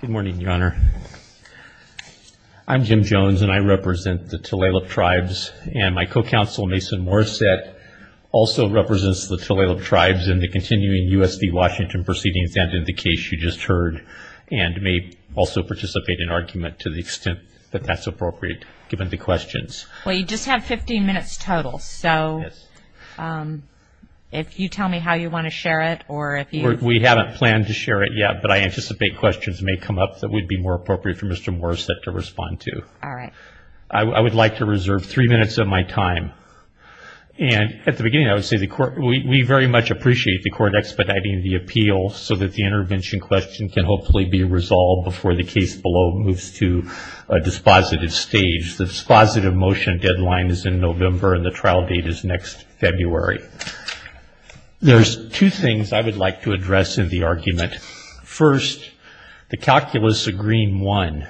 Good morning your honor. I'm Jim Jones and I represent the Tulalip tribes and my co-counsel Mason Morissette also represents the Tulalip tribes in the continuing USD Washington proceedings and in the case you just heard and may also participate in argument to the extent that that's appropriate given the questions. Well you just have 15 minutes total so if you tell me how you want to share it or if you... We haven't planned to share it yet but I anticipate questions may come up that would be more appropriate for Mr. Morissette to respond to. All right. I would like to reserve three minutes of my time and at the beginning I would say the court we very much appreciate the court expediting the appeal so that the intervention question can hopefully be resolved before the case below moves to a dispositive stage. The dispositive motion deadline is in November and the trial date is next February. There's two things I would like to address in the argument. First, the calculus of Green 1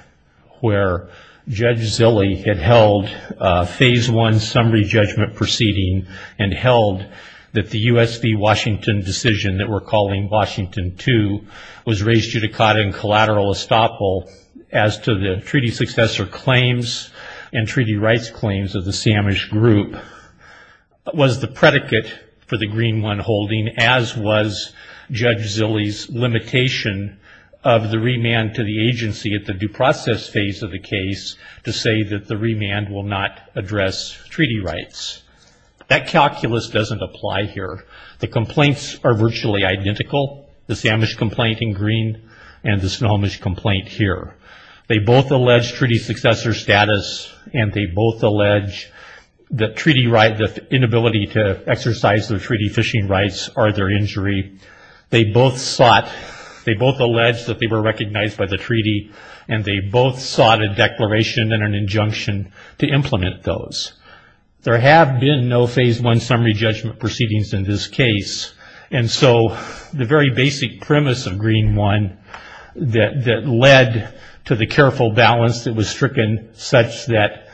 where Judge Zille had held phase one summary judgment proceeding and held that the USD Washington decision that we're calling Washington 2 was raised judicata and collateral estoppel as to the treaty successor claims and treaty rights claims of the Samish group was the predicate for the Green 1 holding as was Judge Zille's limitation of the remand to the agency at the due process phase of the case to say that the remand will not address treaty rights. That calculus doesn't apply here. The complaints are virtually identical. The Samish complaint in Green and the Snohomish complaint here. They both allege treaty successor status and they both allege that treaty rights, the both sought, they both allege that they were recognized by the treaty and they both sought a declaration and an injunction to implement those. There have been no phase one summary judgment proceedings in this case and so the very basic premise of Green 1 that led to the careful balance that was stricken such that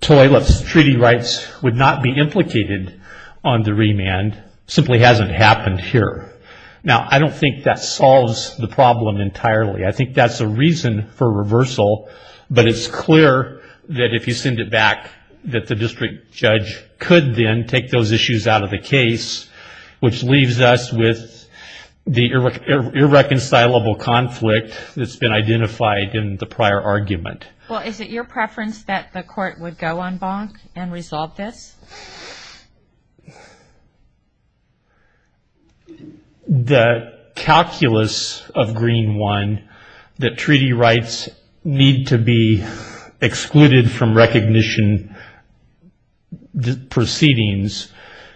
Toileff's treaty rights would not be implicated on the remand simply hasn't happened here. Now I don't think that solves the problem entirely. I think that's a reason for reversal but it's clear that if you send it back that the district judge could then take those issues out of the case which leaves us with the irreconcilable conflict that's been identified in the prior argument. Well is it your preference that the court would go on bonk and resolve this? The calculus of Green 1 that treaty rights need to be excluded from recognition proceedings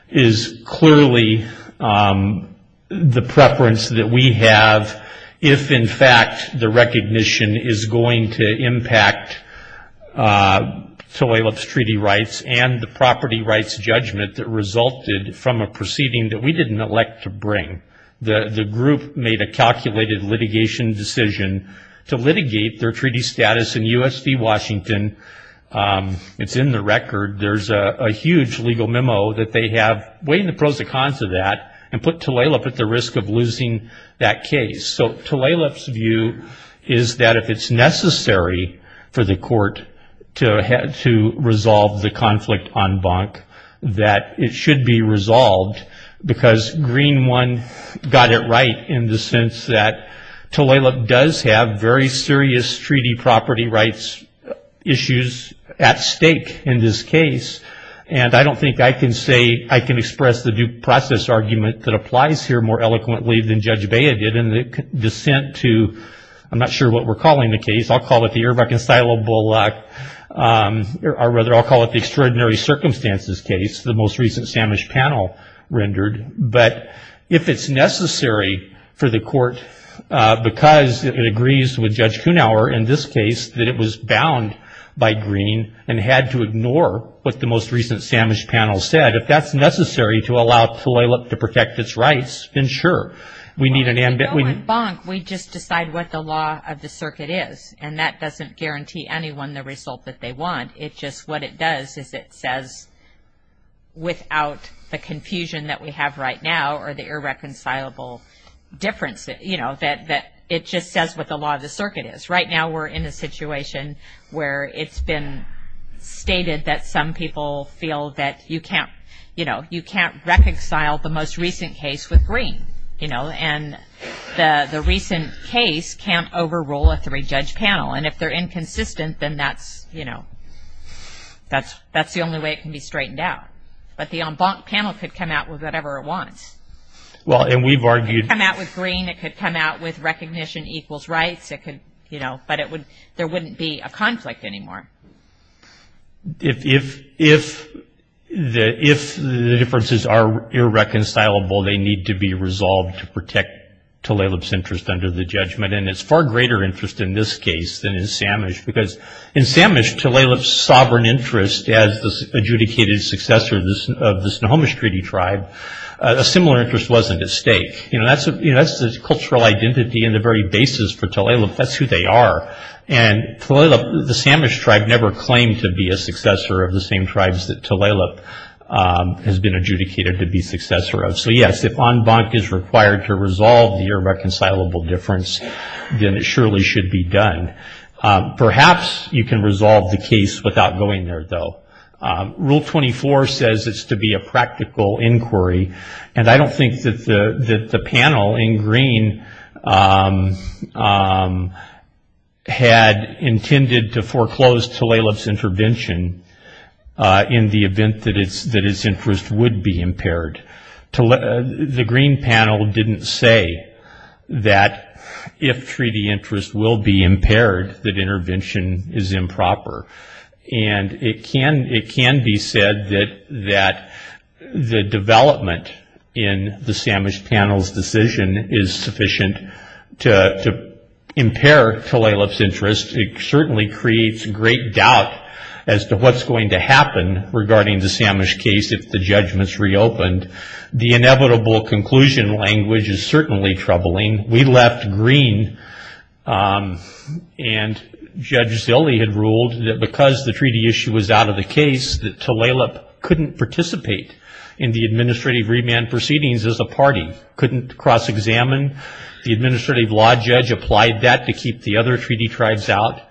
is clearly the preference that we have if in fact the Toileff's treaty rights and the property rights judgment that resulted from a proceeding that we didn't elect to bring. The group made a calculated litigation decision to litigate their treaty status in USD Washington. It's in the record. There's a huge legal memo that they have weighing the pros and cons of that and put Toileff at the risk of losing that case. So Toileff's view is that if it's necessary for the court to resolve the conflict on bonk that it should be resolved because Green 1 got it right in the sense that Toileff does have very serious treaty property rights issues at stake in this case and I don't think I can say I can express the due process argument that applies here more eloquently than Judge Bea did in the dissent to, I'm not sure what we're I'll call it the irreconcilable or rather I'll call it the extraordinary circumstances case the most recent Samish panel rendered but if it's necessary for the court because it agrees with Judge Kunawer in this case that it was bound by Green and had to ignore what the most recent Samish panel said if that's necessary to allow Toileff to protect its rights then sure We just decide what the law of the circuit is and that doesn't guarantee anyone the result that they want it just what it does is it says without the confusion that we have right now or the irreconcilable difference that you know that that it just says what the law of the circuit is right now we're in a situation where it's been stated that some people feel that you can't you know and the the recent case can't overrule a three-judge panel and if they're inconsistent then that's you know that's that's the only way it can be straightened out but the en banc panel could come out with whatever it wants well and we've argued come out with green it could come out with recognition equals rights it could you know but it would there wouldn't be a conflict anymore if if if the if the differences are irreconcilable they need to be resolved to protect Toileff's interest under the judgment and it's far greater interest in this case than in Samish because in Samish Toileff's sovereign interest as the adjudicated successor of the Snohomish treaty tribe a similar interest wasn't at stake you know that's a that's the cultural identity and the very basis for Toileff that's who they are and Toileff the Samish tribe never claimed to be a successor of the same tribes that Toileff has been en banc is required to resolve the irreconcilable difference then it surely should be done perhaps you can resolve the case without going there though rule 24 says it's to be a practical inquiry and I don't think that the the panel in green had intended to foreclose Toileff's intervention in the event that it's interest would be impaired to let the green panel didn't say that if treaty interest will be impaired that intervention is improper and it can it can be said that that the development in the Samish panel's decision is sufficient to impair Toileff's interest it certainly creates great doubt as to what's going to happen regarding the Samish case if the judgments reopened the inevitable conclusion language is certainly troubling we left green and Judge Zille had ruled that because the treaty issue was out of the case that Toileff couldn't participate in the administrative remand proceedings as a party couldn't cross-examine the administrative law judge applied that to keep the other treaty tribes out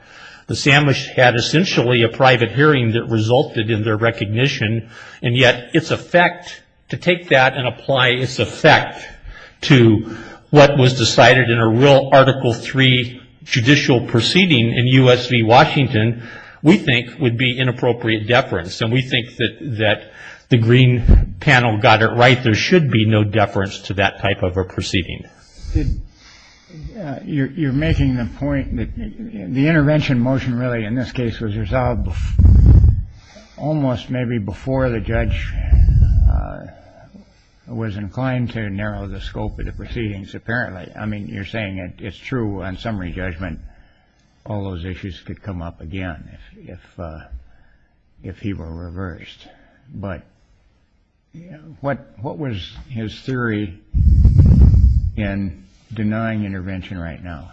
the Samish had essentially a private hearing that resulted in their recognition and yet its effect to take that and apply its effect to what was decided in a real article 3 judicial proceeding in US v Washington we think would be inappropriate deference and we think that that the green panel got it right there should be no deference to that type of a proceeding you're making the point that the intervention motion really in this case was resolved almost maybe before the judge was inclined to narrow the scope of the proceedings apparently I mean you're saying it's true on summary judgment all those issues could come up again if if he were reversed but what what was his theory in denying intervention right now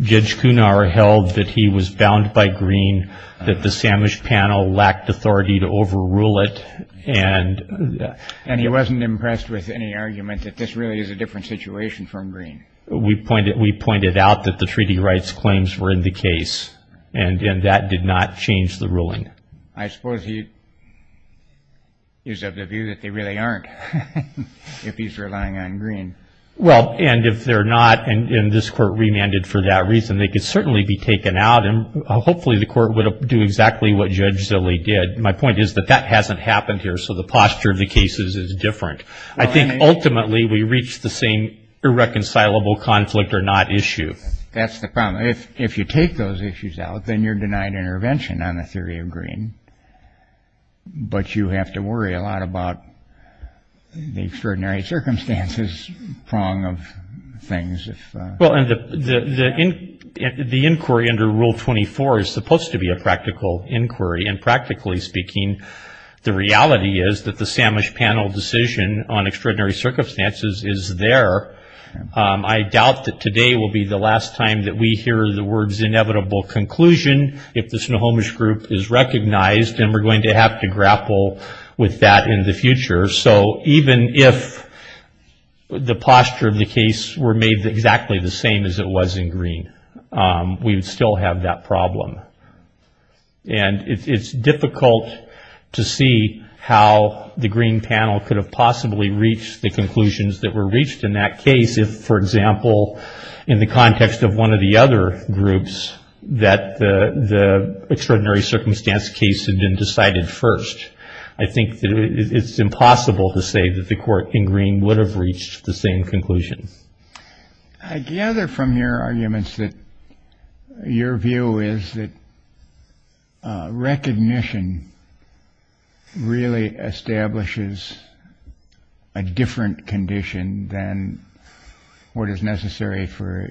judge held that he was bound by green that the Samish panel lacked authority to over rule it and and he wasn't impressed with any argument that this really is a different situation from green we pointed we pointed out that the treaty rights claims were in the case and and that did not change the ruling I suppose he is of the view that they really aren't if he's relying on green well and if they're not and in this court remanded for that reason they could certainly be taken out and hopefully the court would do exactly what judge Zilli did my point is that that hasn't happened here so the posture of the cases is different I think ultimately we reach the same irreconcilable conflict or not issue that's the problem if if you take those issues out then you're denied intervention on the theory of green but you have to worry a lot about the extraordinary circumstances prong of things well and the the inquiry under rule 24 is supposed to be a practical inquiry and practically speaking the reality is that the Samish panel decision on extraordinary circumstances is there I doubt that today will be the last time that we hear the words inevitable conclusion if the Snohomish group is recognized and we're going to have to grapple with that in the future so even if the posture of the case were made exactly the same as it was in green we would still have that problem and it's difficult to see how the green panel could have possibly reached the conclusions that were reached in that case if for example in the context of one of the other groups that the the extraordinary circumstance case had been decided first I think that it's impossible to say that the court in green would have reached the same conclusion I gather from your arguments that your view is that recognition really establishes a different condition than what is necessary for a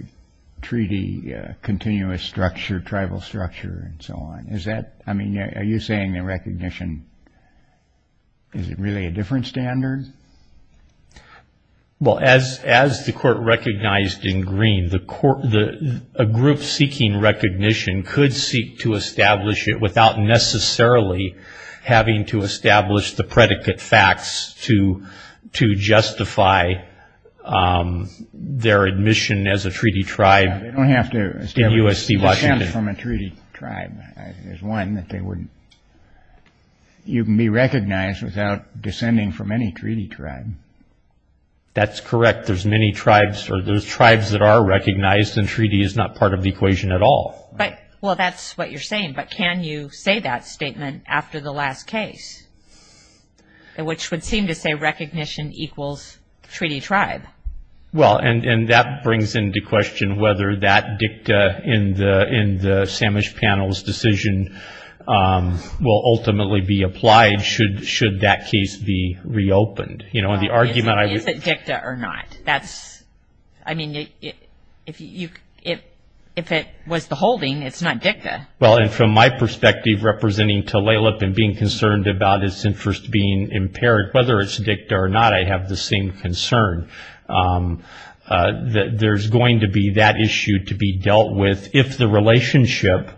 treaty continuous structure tribal structure and so on is that I mean are you saying the recognition is it really a different standard well as as the court recognized in green the court the group seeking recognition could seek to establish it without necessarily having to establish the predicate facts to to justify their admission as a treaty tribe you can be recognized without descending from any treaty tribe that's correct there's many tribes or those tribes that are recognized and treaty is not part of the equation at all but well that's what you're saying but can you say that statement after the last case which would seem to say recognition equals treaty tribe well and and that brings into question whether that dicta in the in the Samish panels decision will ultimately be applied should should that case be reopened you know in the argument I mean if you if if it was the holding it's not dicta well and from my perspective representing to lay lip and concerned about its interest being impaired whether it's dicta or not I have the same concern that there's going to be that issue to be dealt with if the relationship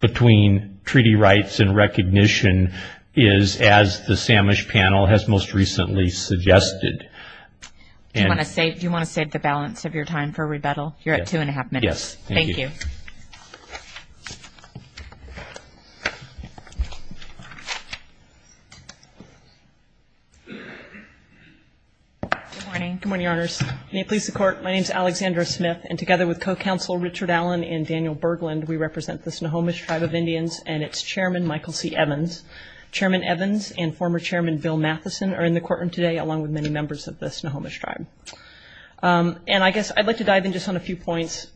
between treaty rights and recognition is as the Samish panel has most recently suggested and I say do you want to save the balance of your time for rebuttal you're at two and a half minutes thank you good morning good morning honors may it please the court my name is Alexandra Smith and together with co-counsel Richard Allen and Daniel Bergland we represent the Snohomish tribe of Indians and its chairman Michael C Evans chairman Evans and former chairman Bill Matheson are in the courtroom today along with many members of the Snohomish tribe and I guess I'd like to dive in just on a few points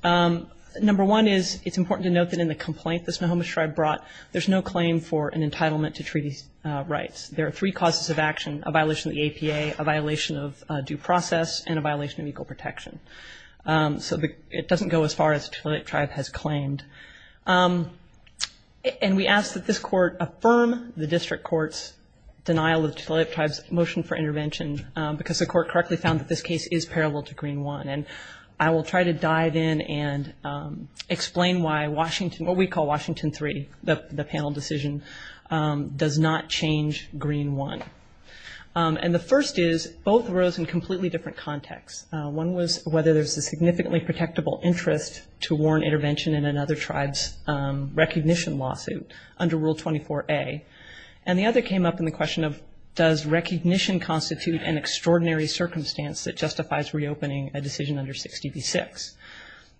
number one is it's important to note that in the complaint the Snohomish tribe brought there's no claim for an entitlement to treaty rights there are three causes of action a violation of the APA a violation of due process and a violation of equal protection so the it doesn't go as far as a tribe has claimed and we ask that this court affirm the district courts denial of tribes motion for intervention because the court correctly found that this case is parallel to green one and I will try to dive in and explain why Washington what we call Washington three the panel decision does not change green one and the first is both rose in completely different contexts one was whether there's a significantly protectable interest to warn intervention in another tribes recognition lawsuit under rule 24a and the other came up in the recognition constitute an extraordinary circumstance that justifies reopening a decision under 60 v6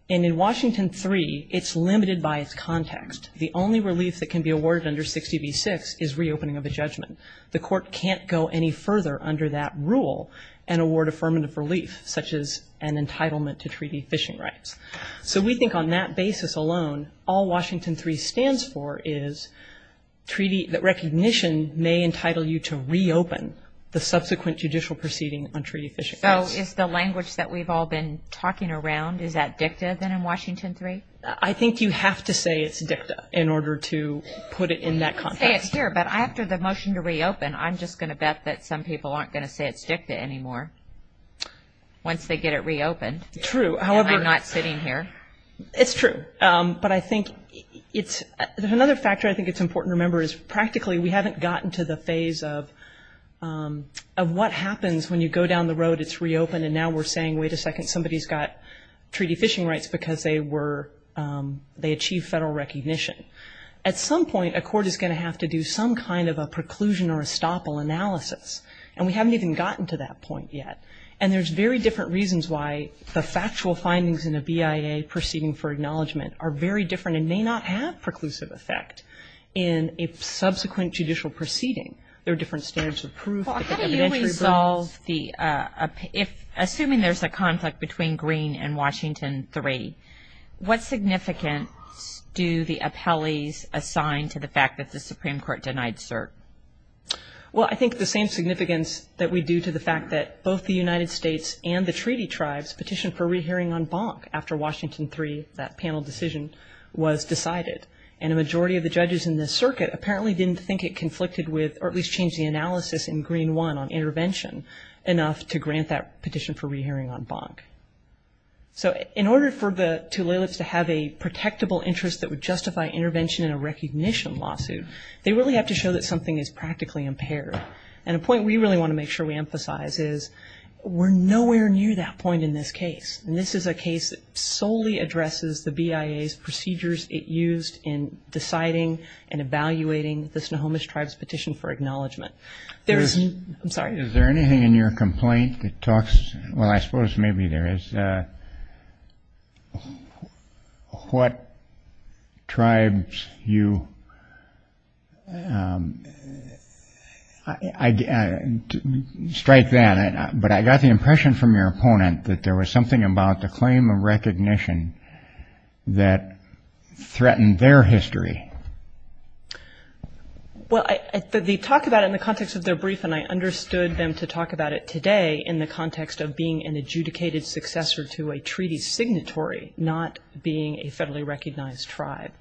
and in Washington three it's limited by its context the only relief that can be awarded under 60 v6 is reopening of the judgment the court can't go any further under that rule and award affirmative relief such as an entitlement to treaty fishing rights so we think on that basis alone all Washington three stands for is treaty that recognition may entitle you to reopen the subsequent judicial proceeding on treaty fishing so it's the language that we've all been talking around is that dicta then in Washington three I think you have to say it's dicta in order to put it in that context here but after the motion to reopen I'm just gonna bet that some people aren't gonna say it's dicta anymore once they get it reopened true however not sitting here it's true but I think it's another factor I think it's important to remember is practically we haven't gotten to the phase of of what happens when you go down the road it's reopened and now we're saying wait a second somebody's got treaty fishing rights because they were they achieve federal recognition at some point a court is going to have to do some kind of a preclusion or estoppel analysis and we haven't even gotten to that point yet and there's very different reasons why the factual findings in a BIA proceeding for judicial proceeding there are different standards of proof the if assuming there's a conflict between green and Washington three what significance do the appellees assigned to the fact that the Supreme Court denied cert well I think the same significance that we do to the fact that both the United States and the treaty tribes petition for rehearing on bonk after Washington three that panel decision was decided and a majority of the judges in this circuit apparently didn't think it conflicted with or at least change the analysis in green one on intervention enough to grant that petition for rehearing on bonk so in order for the tulips to have a protectable interest that would justify intervention in a recognition lawsuit they really have to show that something is practically impaired and a point we really want to make sure we emphasize is we're nowhere near that point in this case and this is a case solely addresses the BIA's procedures it used in deciding and evaluating the Snohomish tribes petition for acknowledgement there's I'm sorry is there anything in your complaint that talks well I suppose maybe there is what tribes you I strike that but I got the impression from your opponent that there was something about the claim of recognition that threatened their history well I thought they talked about in the context of their brief and I understood them to talk about it today in the context of being an adjudicated successor to a treaty signatory not being a federally recognized tribe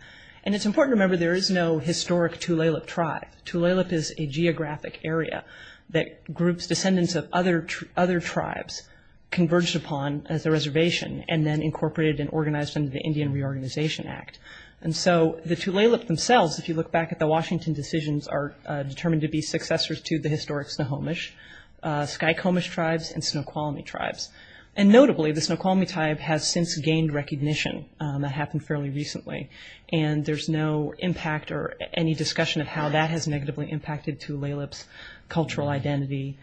and it's important to remember there is no historic Tulalip tribe Tulalip is a geographic area that groups descendants of other other tribes converged upon as a reservation and then incorporated and organized under the Indian Reorganization Act and so the Tulalip themselves if you look back at the Washington decisions are determined to be successors to the historic Snohomish Skykomish tribes and Snoqualmie tribes and notably the Snoqualmie tribe has since gained recognition that happened fairly recently and there's no impact or any discussion of how that has negatively impacted Tulalip's cultural identity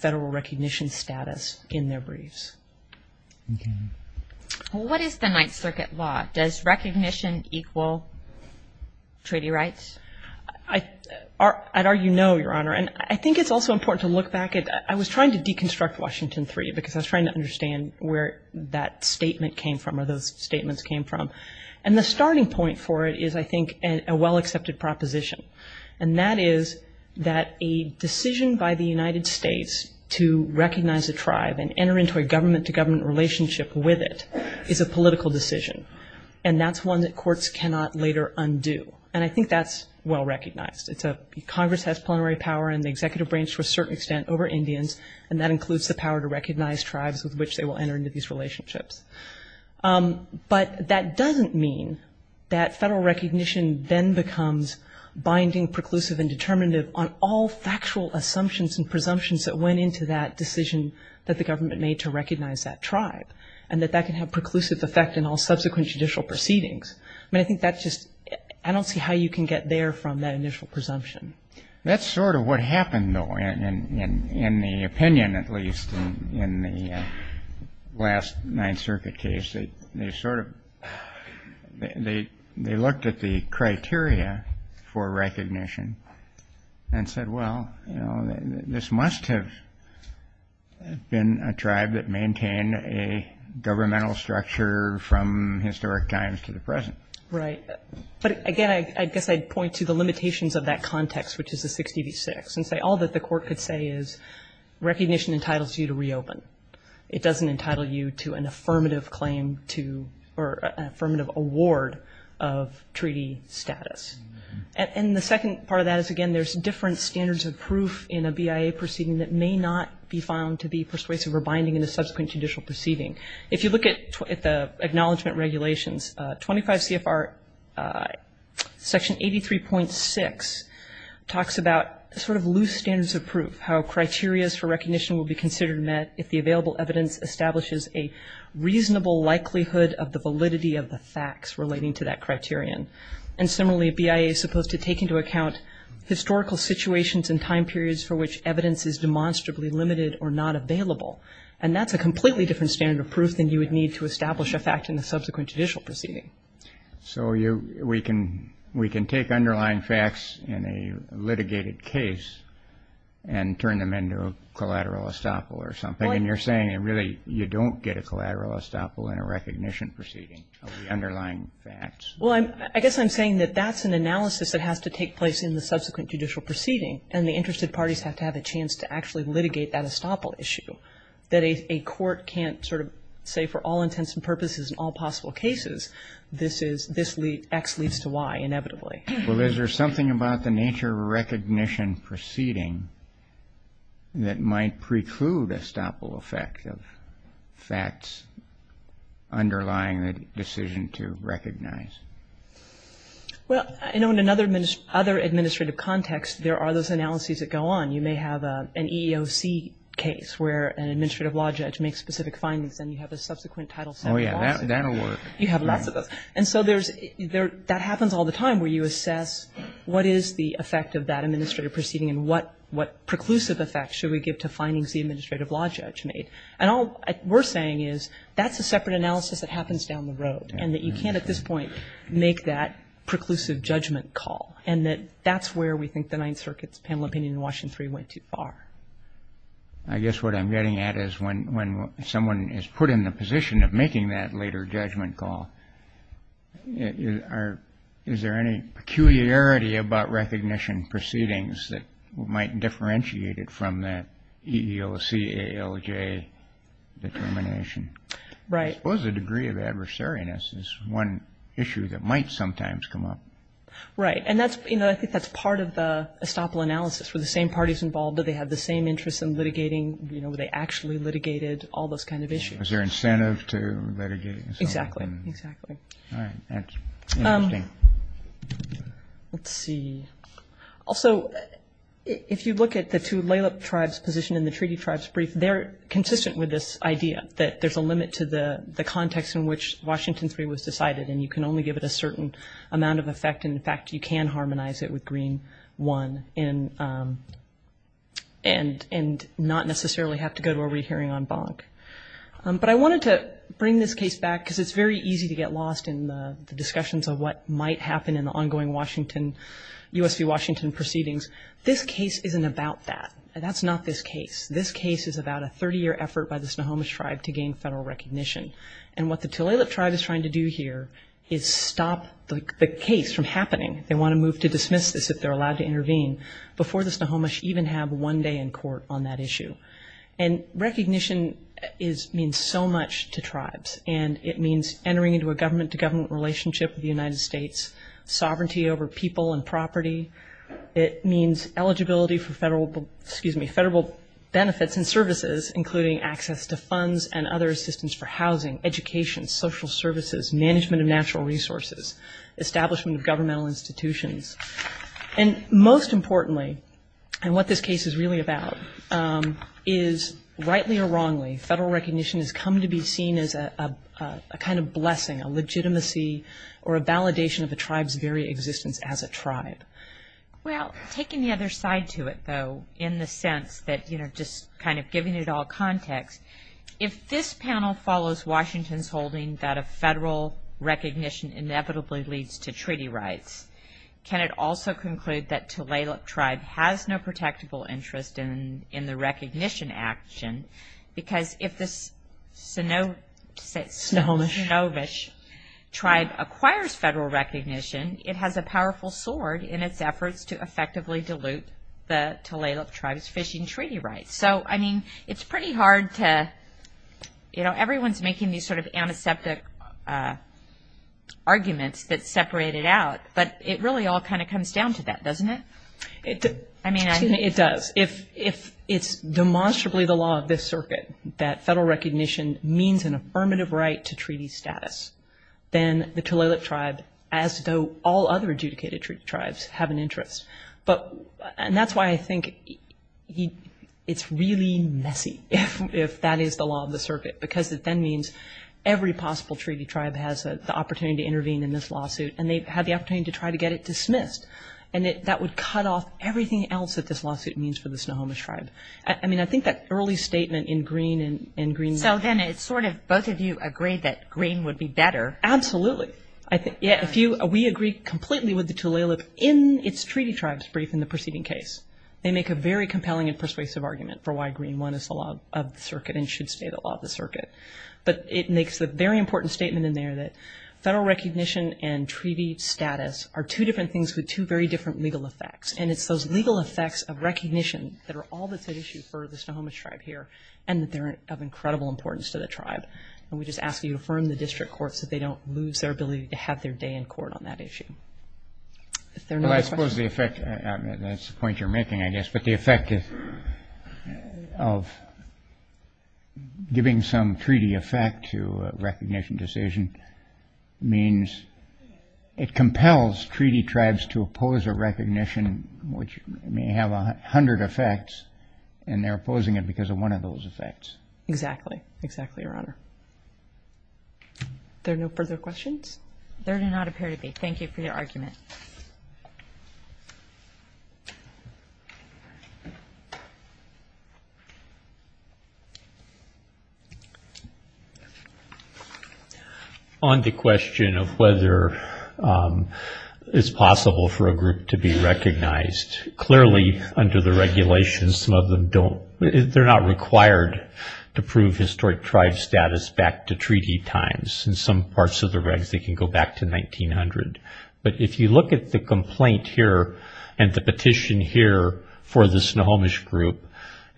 federal recognition status in their briefs what is the Ninth Circuit law does recognition equal treaty rights I'd argue no your honor and I think it's also important to look back at I was trying to deconstruct Washington three because I was trying to understand where that statement came from or those statements came from and the starting point for it is I think and a well the United States to recognize a tribe and enter into a government-to-government relationship with it is a political decision and that's one that courts cannot later undo and I think that's well recognized it's a Congress has plenary power and the executive branch to a certain extent over Indians and that includes the power to recognize tribes with which they will enter into these relationships but that doesn't mean that federal recognition then becomes binding preclusive and determinative on all factual assumptions and presumptions that went into that decision that the government made to recognize that tribe and that that can have preclusive effect in all subsequent judicial proceedings I think that's just I don't see how you can get there from that initial presumption that's sort of what happened though and in the opinion at least in the last Ninth Circuit case they sort of they they looked at the criteria for recognition and said well you know this must have been a tribe that maintained a governmental structure from historic times to the present right but again I guess I'd point to the limitations of that context which is a 60 v 6 and say all that the court could say is recognition entitles you to reopen it doesn't entitle you to an affirmative claim to or affirmative award of treaty status and the second part of that is again there's different standards of proof in a BIA proceeding that may not be found to be persuasive or binding in a subsequent judicial proceeding if you look at the acknowledgement regulations 25 CFR section 83.6 talks about sort of loose standards of proof how criterias for recognition will be considered met if the available evidence establishes a reasonable likelihood of the validity of the facts relating to that criterion and similarly BIA is supposed to take into account historical situations and time periods for which evidence is demonstrably limited or not available and that's a completely different standard of proof than you would need to establish a fact in the subsequent judicial proceeding. So you we can we can take underlying facts in a litigated case and turn them into a collateral estoppel or something and you're saying it really you don't get a collateral estoppel in a recognition proceeding of the underlying facts. Well I guess I'm saying that that's an analysis that has to take place in the subsequent judicial proceeding and the interested parties have to have a chance to actually litigate that estoppel issue that a court can't sort of say for all intents and purposes in all possible cases this is this X leads to Y inevitably. Well is there something about the nature of a recognition proceeding that might preclude estoppel effect of facts underlying the decision to recognize? Well I know in another other administrative context there are those analyses that go on you may have an EEOC case where an administrative law judge makes specific findings and you have a subsequent title. Oh yeah that'll work. You have lots of those and so there's there that happens all the time where you assess what is the effect of that administrative proceeding and what what preclusive effect should we give to separate analysis that happens down the road and that you can't at this point make that preclusive judgment call and that that's where we think the Ninth Circuit's panel opinion in Washington 3 went too far. I guess what I'm getting at is when when someone is put in the position of making that later judgment call is there any peculiarity about recognition proceedings that might differentiate it from that EEOC ALJ determination? Right. What was the degree of adversariness is one issue that might sometimes come up. Right and that's you know I think that's part of the estoppel analysis for the same parties involved that they have the same interests in litigating you know where they actually litigated all those kind of issues. Is there incentive to litigate? Exactly, exactly. Let's see also if you look at the two Laila tribes position in the treaty tribes brief they're consistent with this idea that there's a limit to the the context in which Washington 3 was decided and you can only give it a certain amount of effect and in fact you can harmonize it with Green 1 in and and not necessarily have to go to a rehearing on bonk. But I wanted to bring this case back because it's very easy to get lost in the discussions of what might happen in the ongoing Washington US v Washington proceedings. This case isn't about that and that's not this case. This case is about a 30-year effort by the Snohomish tribe to gain federal recognition and what the Tulalip tribe is trying to do here is stop the case from happening. They want to move to dismiss this if they're allowed to intervene before the Snohomish even have one day in court on that issue. And recognition is means so much to tribes and it means entering into a government-to-government relationship with the United States, sovereignty over people and property. It means eligibility for federal, excuse me, federal benefits and services including access to funds and other assistance for housing, education, social services, management of natural resources, establishment of governmental institutions. And most importantly and what this case is really about is rightly or wrongly federal recognition has come to be seen as a kind of blessing, a legitimacy or a validation of the tribes very existence as a tribe. Well taking the other side to it though in the sense that you know just kind of giving it all context, if this panel follows Washington's holding that a can it also conclude that Tulalip tribe has no protectable interest in the recognition action because if the Snohomish tribe acquires federal recognition it has a powerful sword in its efforts to effectively dilute the Tulalip tribes fishing treaty rights. So I mean it's pretty hard to you know everyone's making these sort of antiseptic arguments that separate it but it really all kind of comes down to that doesn't it? I mean I mean it does if if it's demonstrably the law of this circuit that federal recognition means an affirmative right to treaty status then the Tulalip tribe as though all other adjudicated tribes have an interest but and that's why I think he it's really messy if that is the law of the circuit because it then means every possible treaty tribe has the opportunity to intervene in this lawsuit and they've had the opportunity to try to get it dismissed and that would cut off everything else that this lawsuit means for the Snohomish tribe. I mean I think that early statement in Green and Green... So then it's sort of both of you agree that Green would be better. Absolutely I think yeah if you we agree completely with the Tulalip in its treaty tribes brief in the preceding case. They make a very compelling and persuasive argument for why Green won us the law of the circuit and should stay the law of the circuit but it makes the very important statement in there that federal recognition and treaty status are two different things with two very different legal effects and it's those legal effects of recognition that are all that's an issue for the Snohomish tribe here and that they're of incredible importance to the tribe and we just ask you to affirm the district courts that they don't lose their ability to have their day in court on that issue. I suppose the effect that's the point you're making I guess but the effect of giving some treaty effect to a recognition decision means it compels treaty tribes to oppose a recognition which may have a hundred effects and they're opposing it because of one of those effects. Exactly, exactly your honor. There are no further questions? There do not appear to be. Thank you for your argument. On the question of whether it's possible for a group to be recognized, clearly under the regulations some of them don't, they're not required to prove historic tribe status back to treaty times. In some parts of the regs they can go back to 1900, but if you look at the complaint here and the petition here for the Snohomish group,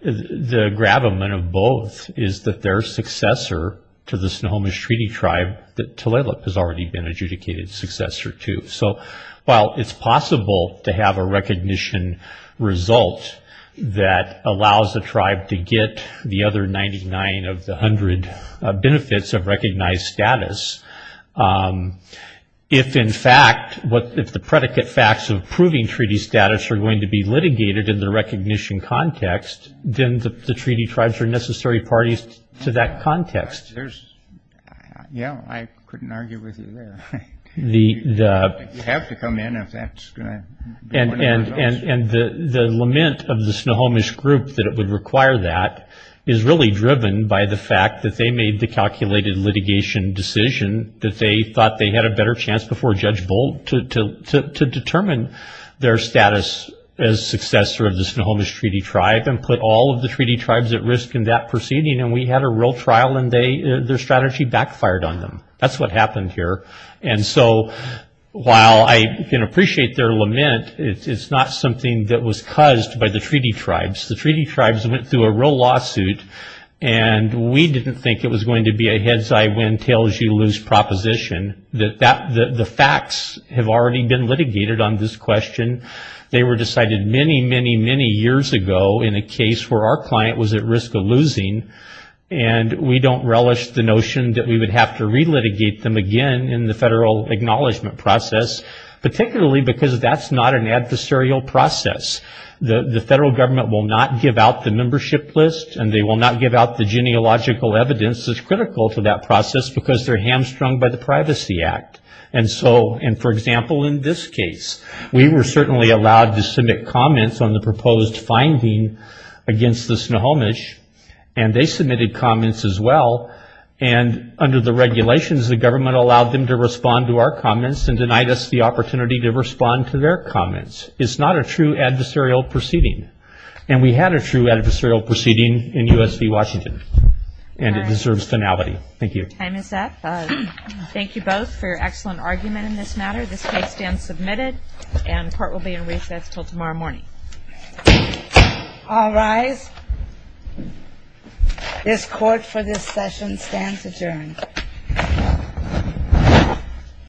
the gravamen of both is that their successor to the Snohomish treaty tribe, the Tulalip, has already been adjudicated successor to. So while it's possible to have a recognition result that allows the tribe to get the other 99 of the hundred benefits of recognized status, if in fact what if the predicate facts of proving treaty status are going to be litigated in the recognition context, then the treaty tribes are necessary parties to that Yeah, I couldn't argue with you there. You have to come in if that's going to be one of the results. And the lament of the Snohomish group that it would require that is really driven by the fact that they made the calculated litigation decision that they thought they had a better chance before Judge Bolt to determine their status as successor of the Snohomish treaty tribe and put all of the treaty tribes at risk in that proceeding and we had a real trial and their strategy backfired on them. That's what happened here. And so while I can appreciate their lament, it's not something that was caused by the treaty tribes. The treaty tribes went through a real lawsuit and we didn't think it was going to be a heads-I-win, tails-you-lose proposition. The facts have already been litigated on this question. They were decided many, many, many years ago in a case where our losing and we don't relish the notion that we would have to re-litigate them again in the federal acknowledgment process, particularly because that's not an adversarial process. The federal government will not give out the membership list and they will not give out the genealogical evidence that's critical to that process because they're hamstrung by the Privacy Act. And so, and for example, in this case, we were certainly allowed to submit comments on the proposed finding against the Snohomish and they submitted comments as well and under the regulations, the government allowed them to respond to our comments and denied us the opportunity to respond to their comments. It's not a true adversarial proceeding and we had a true adversarial proceeding in U.S. v. Washington and it deserves finality. Thank you. Time is up. Thank you both for your excellent argument in this matter. This case stands submitted and court will be in recess until tomorrow morning. All rise. This court for this session stands adjourned.